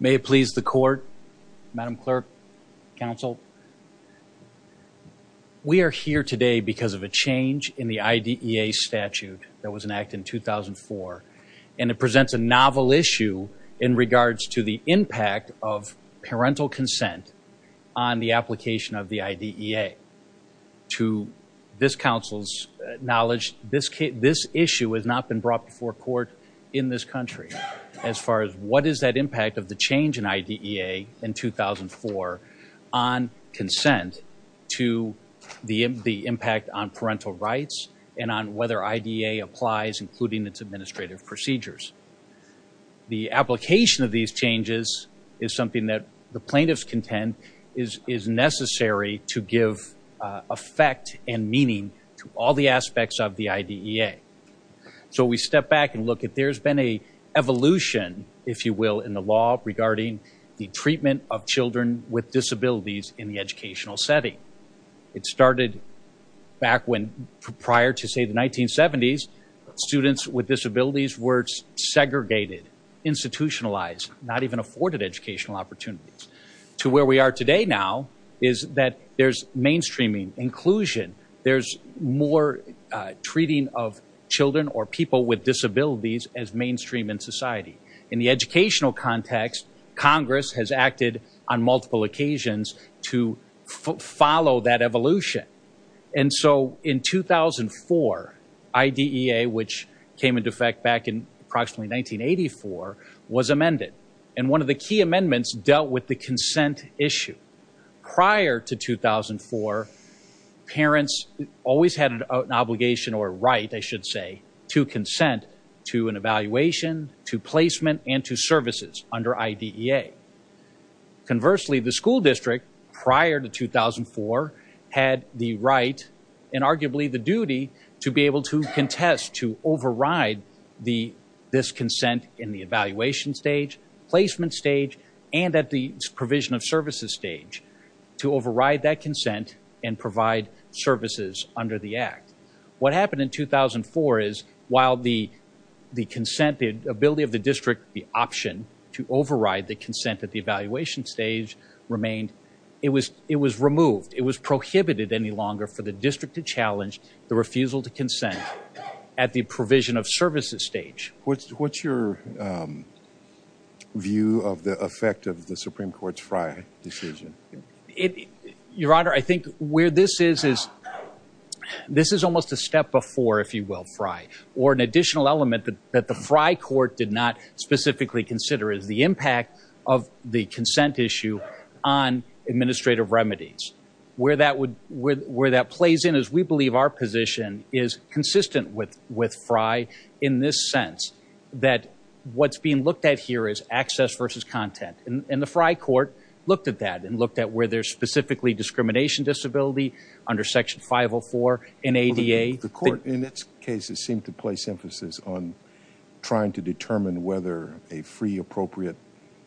May it please the court, Madam Clerk, Council. We are here today because of a change in the IDEA in 2004, and it presents a novel issue in regards to the impact of parental consent on the application of the IDEA. To this Council's knowledge, this issue has not been brought before court in this country as far as what is that impact of the change in IDEA in 2004 on consent to the impact on parental rights and on whether IDEA applies including its administrative procedures. The application of these changes is something that the plaintiffs contend is necessary to give effect and meaning to all the aspects of the IDEA. So we step back and look at there's been an evolution, if you will, in the law regarding the treatment of children with disabilities in the educational setting. It started back when prior to say the 1970s, students with disabilities were segregated, institutionalized, not even afforded educational opportunities. To where we are today now is that there's mainstreaming, inclusion, there's more treating of children or people with disabilities as mainstream in society. In the educational context, Congress has acted on multiple occasions to follow that evolution. And so in 2004, IDEA, which came into effect back in approximately 1984, was amended. And one of the key amendments dealt with the consent issue. Prior to 2004, parents always had an obligation or right, I should say, to consent to an evaluation, to placement, and to services under IDEA. Conversely, the school district prior to 2004 had the right and arguably the duty to be able to contest, to override this consent in the evaluation stage, placement stage, and at the provision of services stage to override that consent and provide services under the act. What happened in 2004 is while the consent, the ability of the district, the option to override the consent at the evaluation stage remained, it was removed. It was prohibited any longer for the district to challenge the refusal to consent at the provision of services stage. What's your view of the effect of the Supreme Court's Frye decision? Your Honor, I think where this is is this is almost a step before, if you will, Frye, or an additional element that the Frye court did not specifically consider is the impact of the consent issue on administrative remedies. Where that plays in is we believe our position is consistent with Frye in this sense that what's being looked at here is access versus content. And the Frye court looked at that and looked at where there's specifically discrimination disability under section 504 in ADA. The court in its cases seemed to place emphasis on trying to determine whether a free appropriate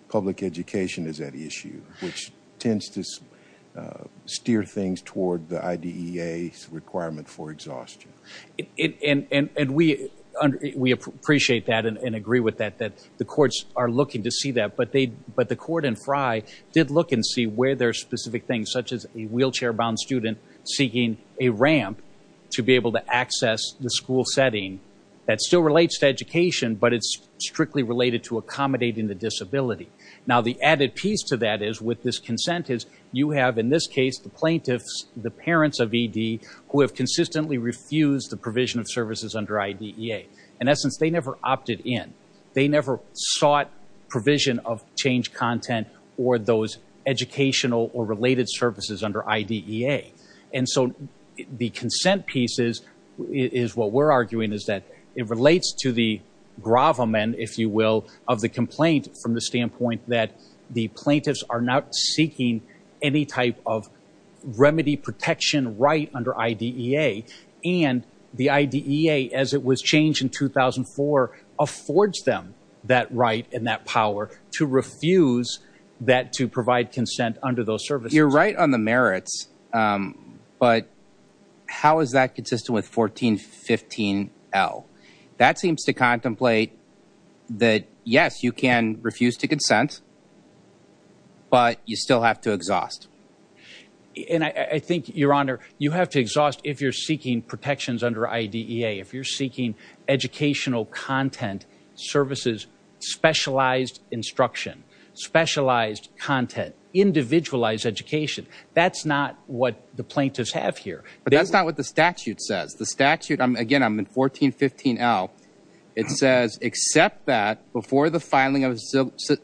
public education is at issue, which tends to steer things toward the IDEA's requirement for exhaustion. And we appreciate that and agree with that, that the courts are looking to see that, but the court in Frye did look and see where there's specific things, such as a wheelchair-bound student seeking a ramp to be able to access the school setting. That still relates to education, but it's strictly related to accommodating the disability. Now the added piece to that is with this consent is you have, in this case, the plaintiffs, the parents of ED who have consistently refused the provision of services under IDEA. In essence, they never opted in. They never sought provision of change content or those educational or related services under IDEA. And so the consent piece is what we're arguing is that it relates to the gravamen, if you will, of the complaint from the standpoint that the plaintiffs are not seeking any type of remedy protection right under IDEA. And the IDEA, as it was changed in 2004, affords them that right and that power to refuse that to provide consent under those services. You're right on the merits, but how is that consistent with 1415L? That seems to contemplate that, yes, you can refuse to consent, but you still have to exhaust. And I think, Your Honor, you have to exhaust if you're seeking protections under IDEA, if you're seeking educational content services, specialized instruction, specialized content, individualized education. That's not what the plaintiffs have here. But that's not what the statute says. The statute, again, I'm in 1415L, it says, except that before the filing of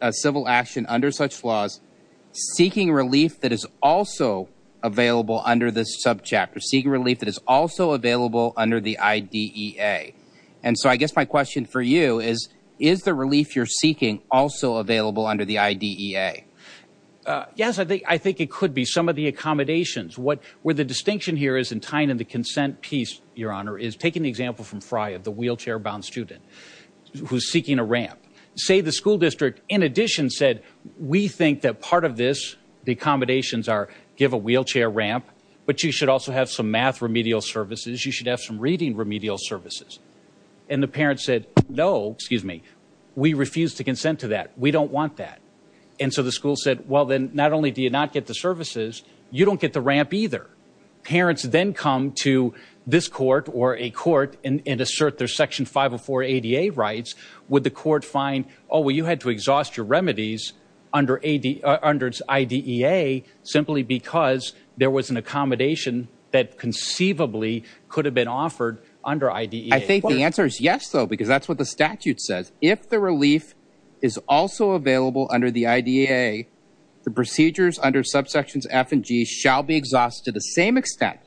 a civil action under such laws, seeking relief that is also available under this subchapter, seeking relief that is also available under the IDEA. And so I guess my question for you is, is the relief you're seeking also available under the IDEA? Yes, I think it could be. I think some of the accommodations, where the distinction here is in tying in the consent piece, Your Honor, is taking the example from Frye of the wheelchair-bound student who's seeking a ramp. Say the school district, in addition, said, we think that part of this, the accommodations are, give a wheelchair ramp, but you should also have some math remedial services, you should have some reading remedial services. And the parents said, no, excuse me, we refuse to consent to that. We don't want that. And so the school said, well, then not only do you not get the services, you don't get the ramp either. Parents then come to this court or a court and assert their Section 504 ADA rights. Would the court find, oh, well, you had to exhaust your remedies under IDEA simply because there was an accommodation that conceivably could have been offered under IDEA? I think the answer is yes, though, because that's what the statute says. If the relief is also available under the IDEA, the procedures under subsections F and G shall be exhausted to the same extent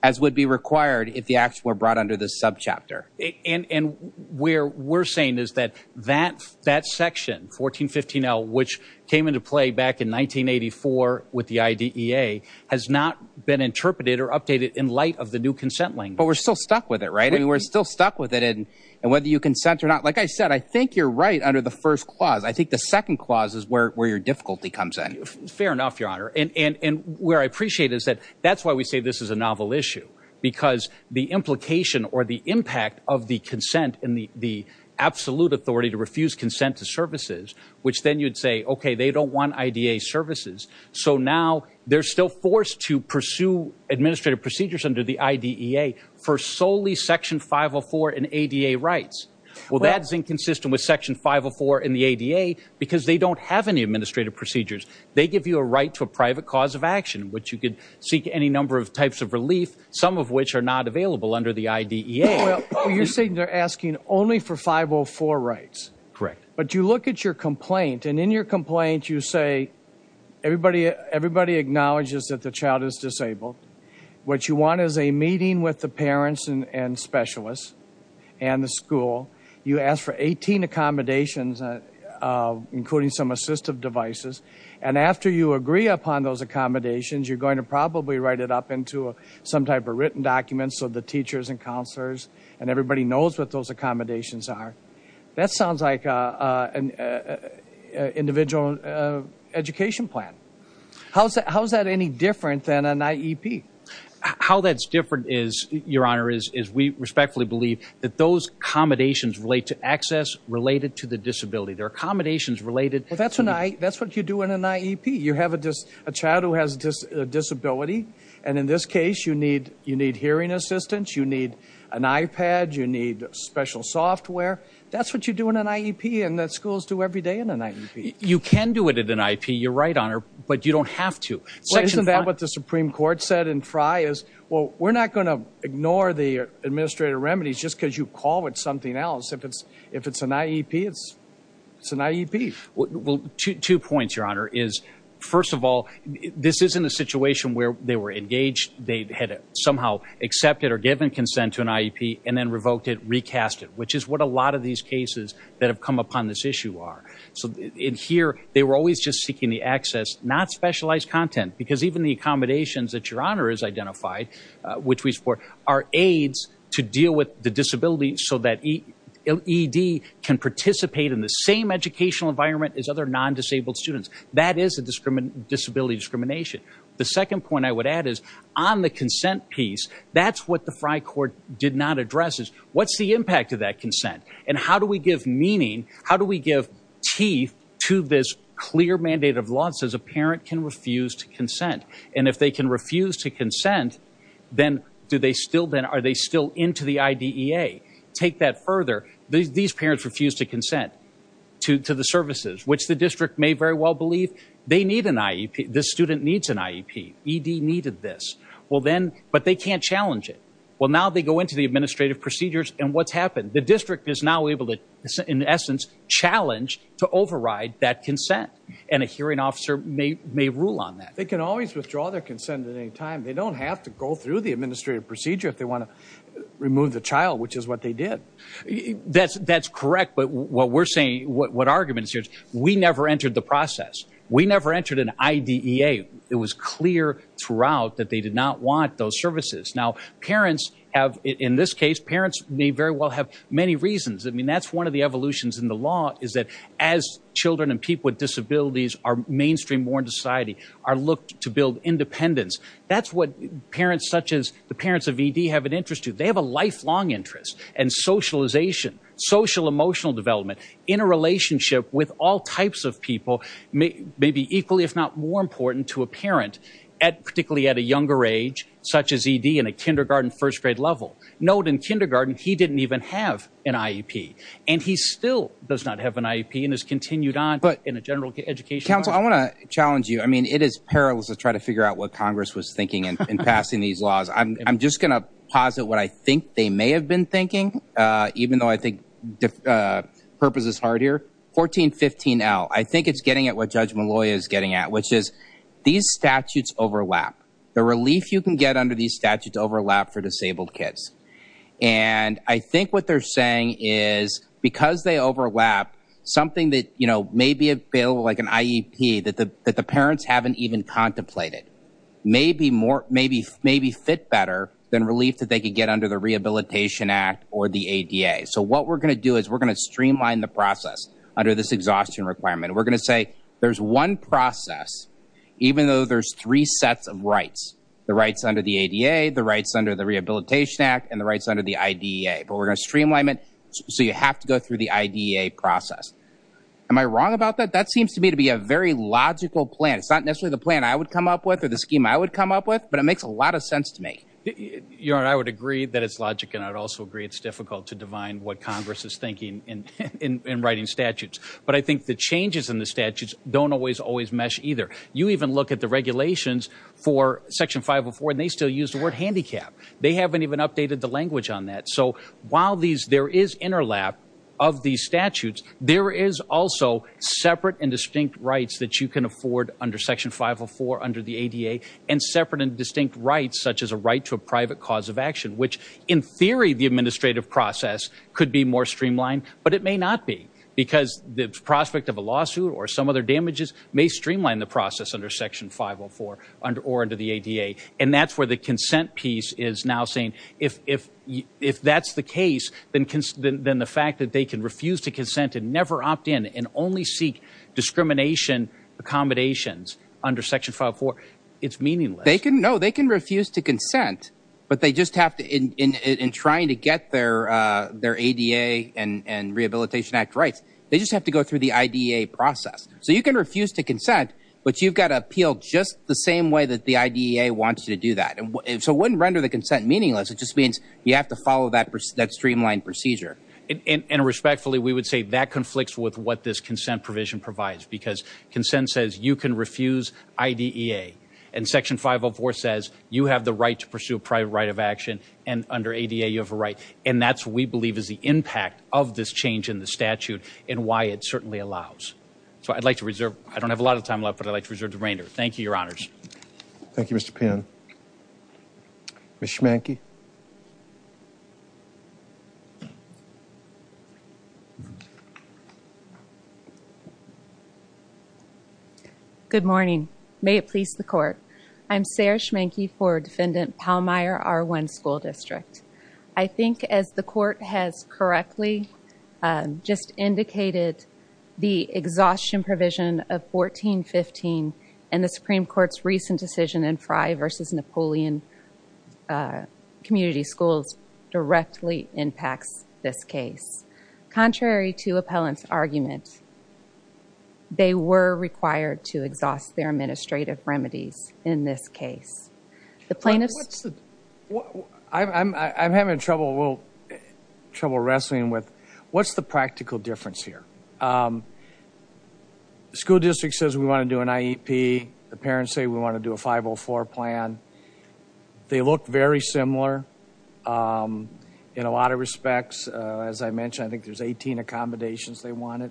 as would be required if the action were brought under this subchapter. And where we're saying is that that section, 1415L, which came into play back in 1984 with the IDEA, has not been interpreted or updated in light of the new consent language. But we're still stuck with it, right? We're still stuck with it. And whether you consent or not, like I said, I think you're right under the first clause. I think the second clause is where your difficulty comes in. Fair enough, Your Honor. And where I appreciate is that that's why we say this is a novel issue, because the implication or the impact of the consent and the absolute authority to refuse consent to services, which then you'd say, OK, they don't want IDEA services. So now they're still forced to pursue administrative procedures under the IDEA for solely section 504 and ADA rights. Well, that's inconsistent with section 504 in the ADA, because they don't have any administrative procedures. They give you a right to a private cause of action, which you could seek any number of types of relief, some of which are not available under the IDEA. Well, you're saying they're asking only for 504 rights. Correct. But you look at your complaint and in your complaint, you say everybody, everybody acknowledges that the child is disabled. What you want is a meeting with the parents and specialists and the school. You ask for 18 accommodations, including some assistive devices. And after you agree upon those accommodations, you're going to probably write it up into some type of written document so the teachers and counselors and everybody knows what those accommodations are. That sounds like an individual education plan. How is that any different than an IEP? How that's different is, Your Honor, is we respectfully believe that those accommodations relate to access related to the disability. They're accommodations related. That's what you do in an IEP. You have a child who has a disability. And in this case, you need hearing assistance. You need an iPad. You need special software. That's what you do in an IEP and that schools do every day in an IEP. You can do it at an IEP. You're right, Your Honor, but you don't have to. Isn't that what the Supreme Court said in Frye? Well, we're not going to ignore the administrative remedies just because you call it something else. If it's an IEP, it's an IEP. Two points, Your Honor. First of all, this isn't a situation where they were engaged, they had somehow accepted or given consent to an IEP and then revoked it, recast it, which is what a lot of these cases that have come upon this issue are. So in here, they were always just seeking the access, not specialized content, because even the accommodations that Your Honor has identified, which we support, are aids to deal with the disability so that ED can participate in the same educational environment as other non-disabled students. That is a disability discrimination. The second point I would add is, on the consent piece, that's what the Frye Court did not address is, what's the impact of that consent? And how do we give meaning? T to this clear mandate of law that says a parent can refuse to consent. And if they can refuse to consent, then are they still into the IDEA? Take that further, these parents refuse to consent to the services, which the district may very well believe they need an IEP, this student needs an IEP, ED needed this. But they can't challenge it. Well, now they go into the administrative procedures, and what's happened? The district is now able to, in essence, challenge to override that consent. And a hearing officer may rule on that. They can always withdraw their consent at any time. They don't have to go through the administrative procedure if they want to remove the child, which is what they did. That's correct. But what we're saying, what argument is here is, we never entered the process. We never entered an IDEA. It was clear throughout that they did not want those services. Now, parents have, in this case, parents may very well have many reasons. I mean, that's one of the evolutions in the law, is that as children and people with disabilities are mainstreamed more into society, are looked to build independence, that's what parents such as the parents of ED have an interest to. They have a lifelong interest in socialization, social emotional development, in a relationship with all types of people, may be equally if not more important to a parent, particularly at a younger age, such as ED in a kindergarten, first grade level. Note in kindergarten, he didn't even have an IEP. And he still does not have an IEP and has continued on in a general education. Counsel, I want to challenge you. I mean, it is perilous to try to figure out what Congress was thinking in passing these laws. I'm just going to posit what I think they may have been thinking, even though I think purpose is hard here. 1415L, I think it's getting at what Judge Malloy is getting at, which is, these statutes overlap. The relief you can get under these statutes overlap for disabled kids. And I think what they're saying is, because they overlap, something that, you know, may be a bill like an IEP that the parents haven't even contemplated may be more, may be fit better than relief that they could get under the Rehabilitation Act or the ADA. So what we're going to do is we're going to streamline the process under this exhaustion requirement. And we're going to say, there's one process, even though there's three sets of rights, the rights under the ADA, the rights under the Rehabilitation Act, and the rights under the IDEA. But we're going to streamline it so you have to go through the IDEA process. Am I wrong about that? That seems to me to be a very logical plan. It's not necessarily the plan I would come up with or the scheme I would come up with, but it makes a lot of sense to me. You know, I would agree that it's logic, and I'd also agree it's difficult to divine what Congress is thinking in writing statutes. But I think the changes in the statutes don't always, always mesh either. You even look at the regulations for Section 504, and they still use the word handicap. They haven't even updated the language on that. So while there is interlap of these statutes, there is also separate and distinct rights that you can afford under Section 504, under the ADA, and separate and distinct rights such as a right to a private cause of action, which in theory, the administrative process could be more streamlined, but it may not be, because the prospect of a lawsuit or some other damages may streamline the process under Section 504 or under the ADA. And that's where the consent piece is now saying, if that's the case, then the fact that they can refuse to consent and never opt in and only seek discrimination accommodations under Section 504, it's meaningless. No, they can refuse to consent, but they just have to, in trying to get their ADA and Rehabilitation Act rights, they just have to go through the IDEA process. So you can refuse to consent, but you've got to appeal just the same way that the IDEA wants you to do that. So it wouldn't render the consent meaningless. It just means you have to follow that streamlined procedure. And respectfully, we would say that conflicts with what this consent provision provides, because consent says you can refuse IDEA, and Section 504 says you have the right to pursue a private right of action, and under ADA, you have a right. And that's what we believe is the impact of this change in the statute and why it certainly allows. So I'd like to reserve, I don't have a lot of time left, but I'd like to reserve the remainder. Thank you, Your Honors. Thank you, Mr. Pinn. Ms. Schmanke? Good morning. May it please the Court. I'm Sarah Schmanke for Defendant Pallmeyer, R1 School District. I think as the Court has correctly just indicated, the exhaustion provision of 1415 and the Supreme Community Schools directly impacts this case. Contrary to appellant's argument, they were required to exhaust their administrative remedies in this case. The plaintiffs... What's the... I'm having trouble, a little trouble wrestling with, what's the practical difference here? The school district says we want to do an IEP, the parents say we want to do a 504 plan. They look very similar in a lot of respects. As I mentioned, I think there's 18 accommodations they wanted.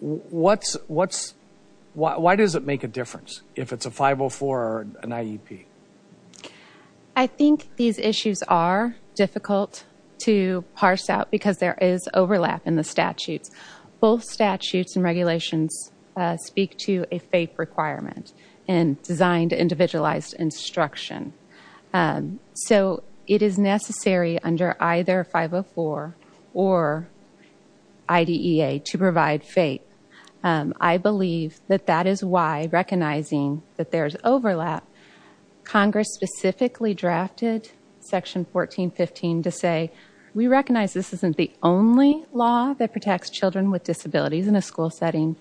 Why does it make a difference if it's a 504 or an IEP? I think these issues are difficult to parse out because there is overlap in the statutes. Both statutes and regulations speak to a FAPE requirement and designed individualized instruction. So it is necessary under either 504 or IDEA to provide FAPE. I believe that that is why, recognizing that there's overlap, Congress specifically drafted section 1415 to say, we recognize this isn't the only law that protects children with disabilities in a school setting,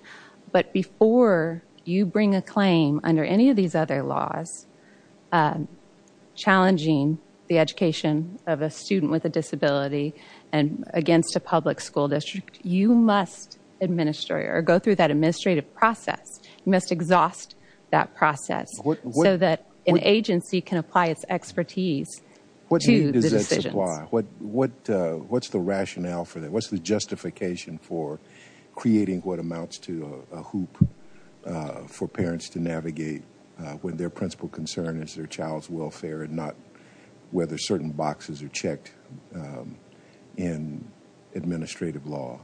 but before you bring a claim under any of these other laws, challenging the education of a student with a disability against a public school district, you must administer or go through that administrative process. You must exhaust that process so that an agency can apply its expertise to the decisions. What's the rationale for that? What's the justification for creating what amounts to a hoop for parents to navigate when their principal concern is their child's welfare and not whether certain boxes are checked in administrative law?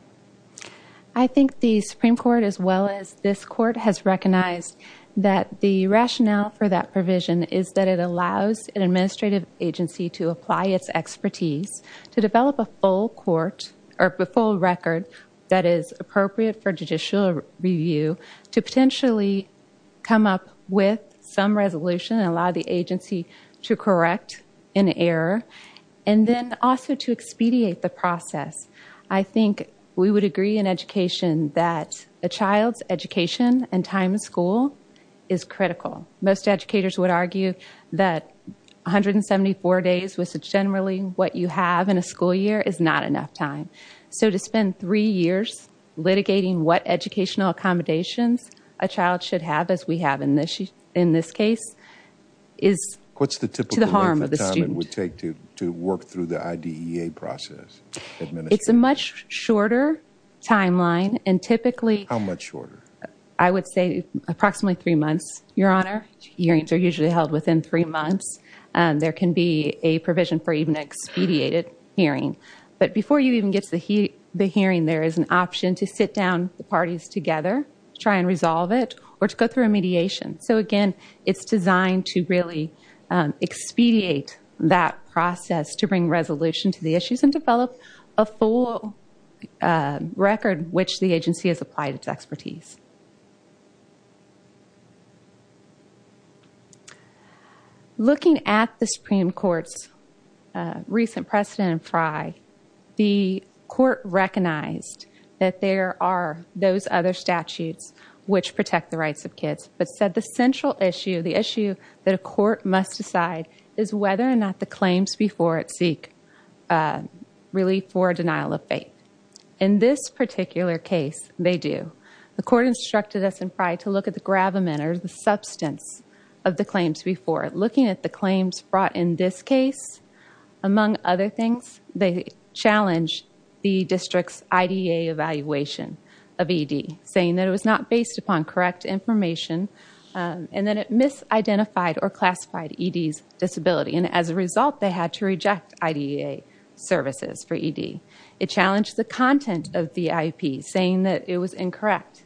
I think the Supreme Court, as well as this court, has recognized that the rationale for that provision is that it allows an administrative agency to apply its expertise, to develop a full record that is appropriate for judicial review, to potentially come up with some resolution and allow the agency to correct an error, and then also to expedite the process. I think we would agree in education that a child's education and time in school is critical. Most educators would argue that 174 days, which is generally what you have in a school year, is not enough time. So to spend three years litigating what educational accommodations a child should have, as we have in this case, is to the harm of the student. How long would it take to work through the IDEA process? It's a much shorter timeline. And typically... How much shorter? I would say approximately three months, Your Honor. Hearings are usually held within three months. There can be a provision for even an expedited hearing. But before you even get to the hearing, there is an option to sit down the parties together, try and resolve it, or to go through a mediation. So again, it's designed to really expedite that process to bring resolution to the issues and develop a full record which the agency has applied its expertise. Looking at the Supreme Court's recent precedent in Frye, the court recognized that there are those other statutes which protect the rights of kids, but said the central issue, the issue that a court must decide, is whether or not the claims before it seek relief for denial of faith. In this particular case, they do. The court instructed us in Frye to look at the gravamen, or the substance, of the claims before it. Looking at the claims brought in this case, among other things, they challenge the district's IDEA evaluation of ED, saying that it was not based upon correct information, and that it misidentified or classified ED's disability. And as a result, they had to reject IDEA services for ED. It challenged the content of the IEP, saying that it was incorrect.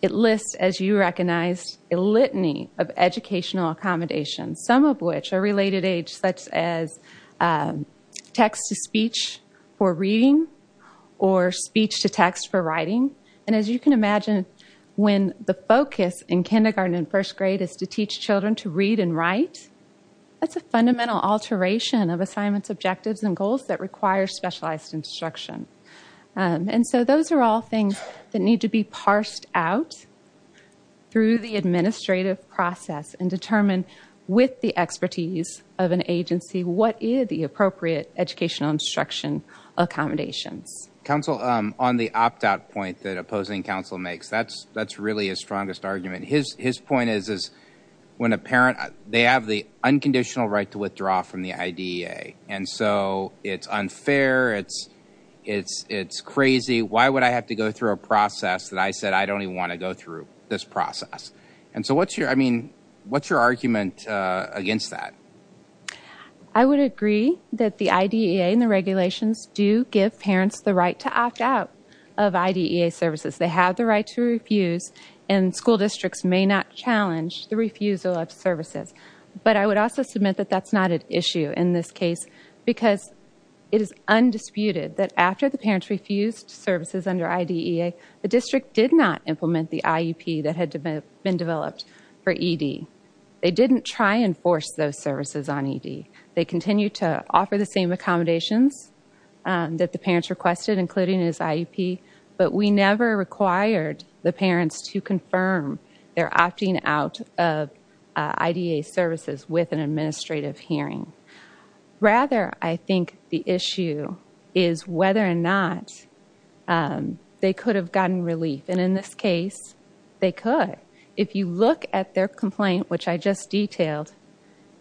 It lists, as you recognized, a litany of educational accommodations, some of which are related age, such as text-to-speech for reading, or speech-to-text for writing. And as you can imagine, when the focus in kindergarten and first grade is to teach children to read and write, that's a fundamental alteration of assignments, objectives, and goals that require specialized instruction. And so those are all things that need to be parsed out through the administrative process and determined with the expertise of an agency, what is the appropriate educational instruction accommodations. Counsel, on the opt-out point that opposing counsel makes, that's really his strongest argument. His point is, when a parent, they have the unconditional right to withdraw from the IDEA, and so it's unfair, it's crazy, why would I have to go through a process that I said I don't even want to go through this process? And so what's your argument against that? I would agree that the IDEA and the regulations do give parents the right to opt out of IDEA services. They have the right to refuse, and school districts may not challenge the refusal of services. But I would also submit that that's not an issue in this case, because it is undisputed that after the parents refused services under IDEA, the district did not implement the IEP that had been developed for ED. They didn't try and force those services on ED. They continued to offer the same accommodations that the parents requested, including as IEP, but we never required the parents to confirm their opting out of IDEA services with an administrative hearing. Rather, I think the issue is whether or not they could have gotten relief, and in this case, they could. If you look at their complaint, which I just detailed,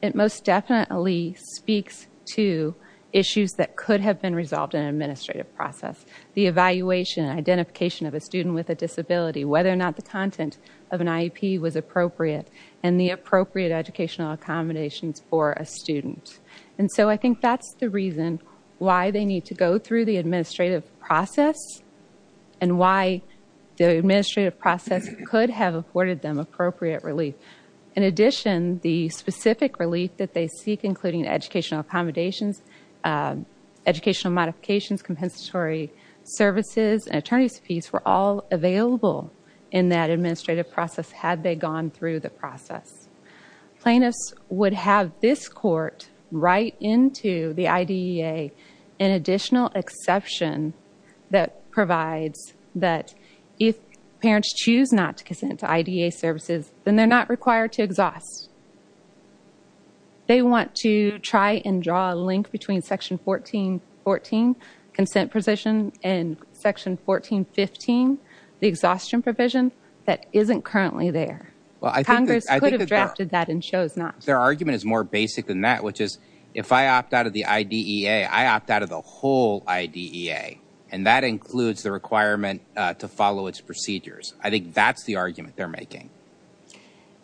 it most definitely speaks to issues that could have been resolved in an administrative process. The evaluation and identification of a student with a disability, whether or not the content of an IEP was appropriate, and the appropriate educational accommodations for a student. And so I think that's the reason why they need to go through the administrative process, and why the administrative process could have afforded them appropriate relief. In addition, the specific relief that they seek, including educational accommodations, educational modifications, compensatory services, and attorney's fees, were all available in that administrative process had they gone through the process. Plaintiffs would have this court write into the IDEA an additional exception that provides that if parents choose not to consent to IDEA services, then they're not required to exhaust. They want to try and draw a link between section 1414, consent position, and section 1415, the exhaustion provision, that isn't currently there. Congress could have drafted that and chose not. Their argument is more basic than that, which is if I opt out of the IDEA, I opt out of the whole IDEA, and that includes the requirement to follow its procedures. I think that's the argument they're making.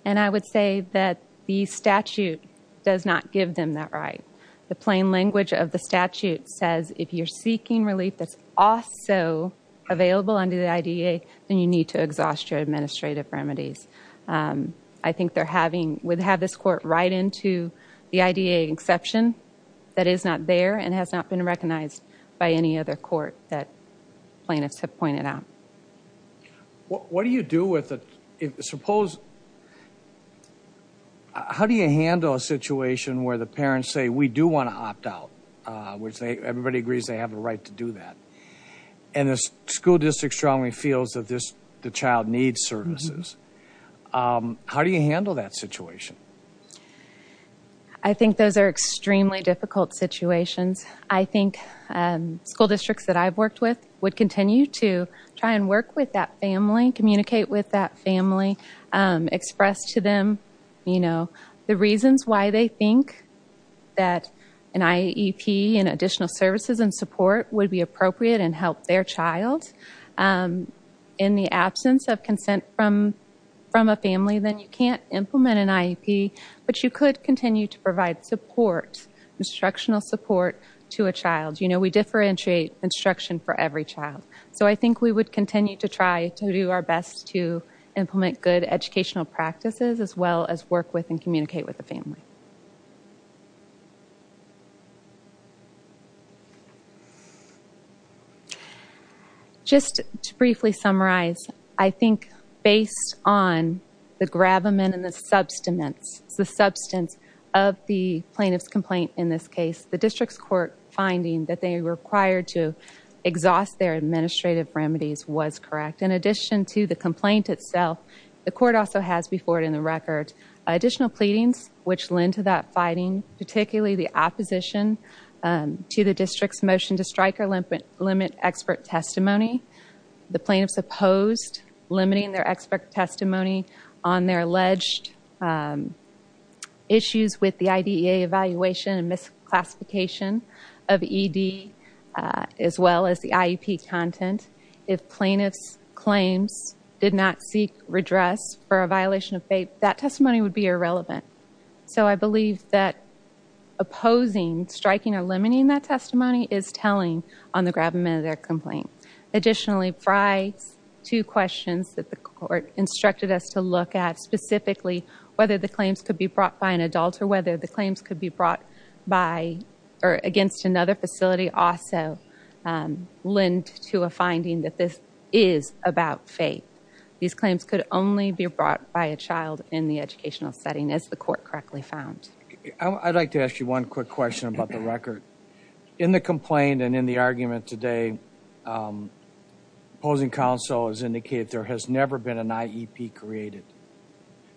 And I would say that the statute does not give them that right. The plain language of the statute says if you're seeking relief that's also available under the IDEA, then you need to exhaust your administrative remedies. I think they're having, would have this court write into the IDEA exception that is not there and has not been recognized by any other court that plaintiffs have pointed out. What do you do with the, suppose, how do you handle a situation where the parents say, we do want to opt out, which everybody agrees they have a right to do that, and the school district strongly feels that this, the child needs services. How do you handle that situation? I think those are extremely difficult situations. I think school districts that I've worked with would continue to try and work with that family, communicate with that family, express to them, you know, the reasons why they think that an IEP and additional services and support would be appropriate and help their child in the absence of consent from a family, then you can't implement an IEP, but you could continue to provide support, instructional support to a child. You know, we differentiate instruction for every child. So I think we would continue to try to do our best to implement good educational practices as well as work with and communicate with the family. Just to briefly summarize, I think based on the gravamen and the substiments, the substance of the plaintiff's complaint in this case, the district's court finding that they required to exhaust their administrative remedies was correct. In addition to the complaint itself, the court also has before it in the record additional pleadings which lend to that fighting, particularly the opposition to the district's motion to strike or limit expert testimony. The plaintiff's opposed limiting their expert testimony on their alleged issues with the IDEA evaluation and misclassification of ED as well as the IEP content. If plaintiff's claims did not seek redress for a violation of FAPE, that testimony would be irrelevant. So I believe that opposing, striking or limiting that testimony is telling on the gravamen of their complaint. Additionally, prior to questions that the court instructed us to look at specifically whether the claims could be brought by an adult or whether the claims could be brought by or against another facility also lend to a finding that this is about FAPE. These claims could only be brought by a child in the educational setting as the court correctly found. I'd like to ask you one quick question about the record. In the complaint and in the argument today, opposing counsel has indicated there has never been an IEP created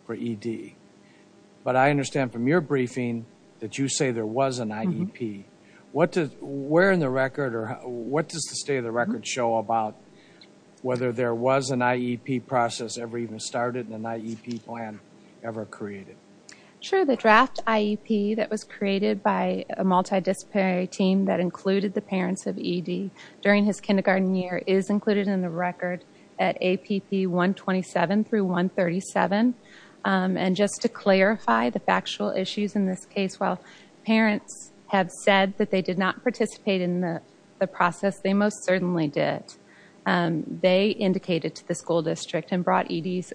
for ED. But I understand from your briefing that you say there was an IEP. What does, where in the record or what does the state of the record show about whether there was an IEP process ever even started and an IEP plan ever created? Sure. The draft IEP that was created by a multidisciplinary team that included the parents of ED during his kindergarten year is included in the record at APP 127 through 137. And just to clarify the factual issues in this case, while parents have said that they did not participate in the process, they most certainly did. They indicated to the school district and brought ED's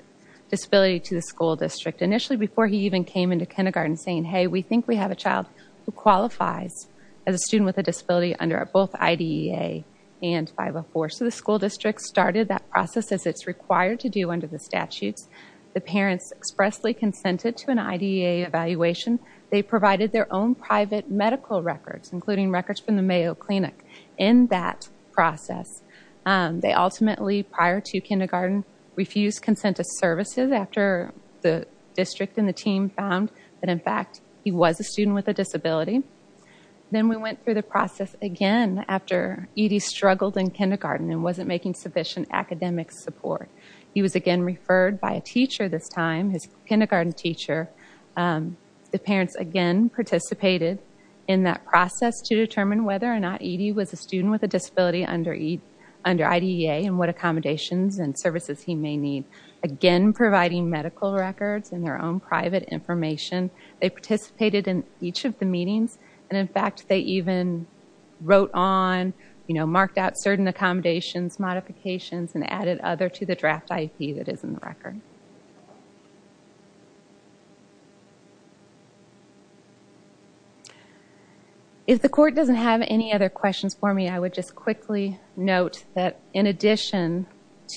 disability to the school district initially before he even came into kindergarten saying, hey, we think we have a child who qualifies as a student with a disability under both IDEA and 504. So the school district started that process as it's required to do under the statutes. The parents expressly consented to an IDEA evaluation. They provided their own private medical records, including records from the Mayo Clinic. In that process, they ultimately, prior to kindergarten, refused consent to services after the district and the team found that, in fact, he was a student with a disability. Then we went through the process again after ED struggled in kindergarten and wasn't making sufficient academic support. He was again referred by a teacher this time, his kindergarten teacher. The parents, again, participated in that process to determine whether or not ED was a student with a disability under IDEA and what accommodations and services he may need. Again, providing medical records and their own private information. They participated in each of the meetings. And, in fact, they even wrote on, you know, marked out certain accommodations, modifications, and added other to the draft IP that is in the record. If the court doesn't have any other questions for me, I would just quickly note that, in addition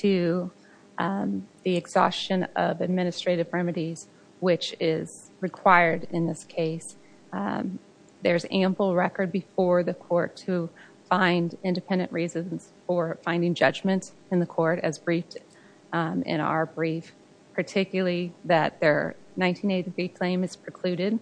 to the exhaustion of administrative remedies, which is required in this case, there's ample record before the court to find independent reasons for finding judgment in the court as briefed in our brief, particularly that their 1983 claim is precluded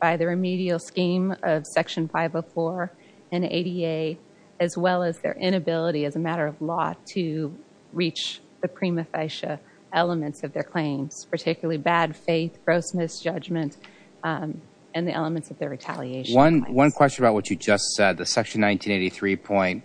by the remedial scheme of Section 504 and ADA, as well as their inability as a matter of law to reach the prima facie elements of their claims, particularly bad faith, gross misjudgment, and the elements of their retaliation. One question about what you just said. The Section 1983 point,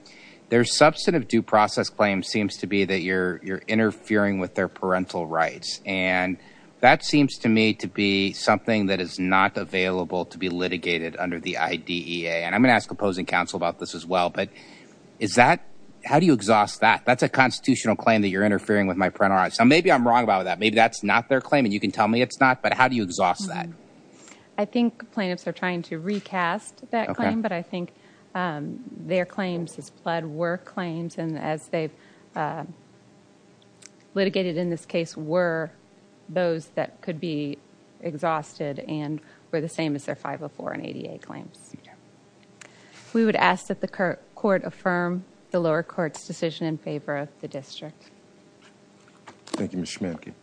their substantive due process claim seems to be that you're interfering with their parental rights. And that seems to me to be something that is not available to be litigated under the IDEA. And I'm going to ask opposing counsel about this as well. But is that, how do you exhaust that? That's a constitutional claim that you're interfering with my parental rights. Now, maybe I'm wrong about that. Maybe that's not their claim. And you can tell me it's not. But how do you exhaust that? I think plaintiffs are trying to recast that claim. But I think their claims as pled were claims. And as they've litigated in this case were those that could be exhausted and were the same as their 504 and ADA claims. We would ask that the court affirm the lower court's decision in favor of the district. Thank you, Ms. Schmanke.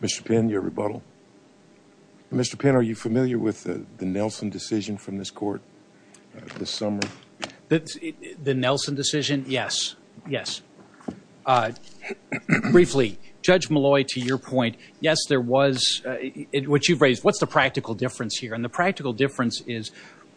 Mr. Pinn, your rebuttal. Mr. Pinn, are you familiar with the Nelson decision from this court this summer? The Nelson decision? Yes. Yes. Briefly, Judge Malloy, to your point, yes, there was, what you've raised, what's the practical difference here? And the practical difference is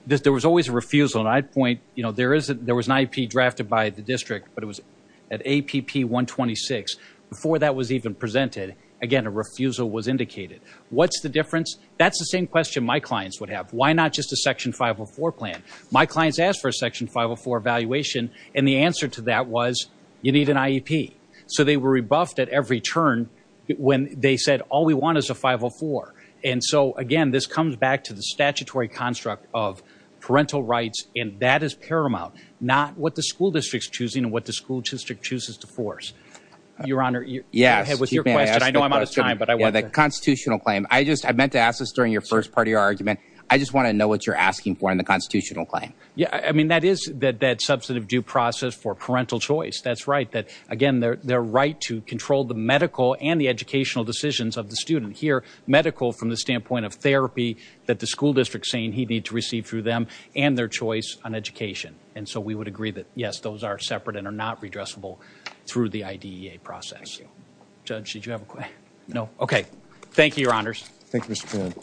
there was always a refusal. And I'd point, you know, there was an IEP drafted by the district. But it was at APP 126. Before that was even presented, again, a refusal was indicated. What's the difference? That's the same question my clients would have. Why not just a Section 504 plan? My clients asked for a Section 504 evaluation. And the answer to that was, you need an IEP. So they were rebuffed at every turn when they said, all we want is a 504. And so, again, this comes back to the statutory construct of parental rights. And that is paramount. Not what the school district's choosing and what the school district chooses to force. Your Honor, go ahead with your question. I know I'm out of time, but I want to. The constitutional claim. I just, I meant to ask this during your first part of your argument. I just want to know what you're asking for in the constitutional claim. Yeah, I mean, that is that substantive due process for parental choice. That's right. That, again, their right to control the medical and the educational decisions of the student here. Medical from the standpoint of therapy that the school district's saying he'd need to receive through them and their choice on education. And so we would agree that, yes, those are separate and are not redressable through the IDEA process. Judge, did you have a question? No? OK. Thank you, Your Honors. Thank you, Mr. Poon.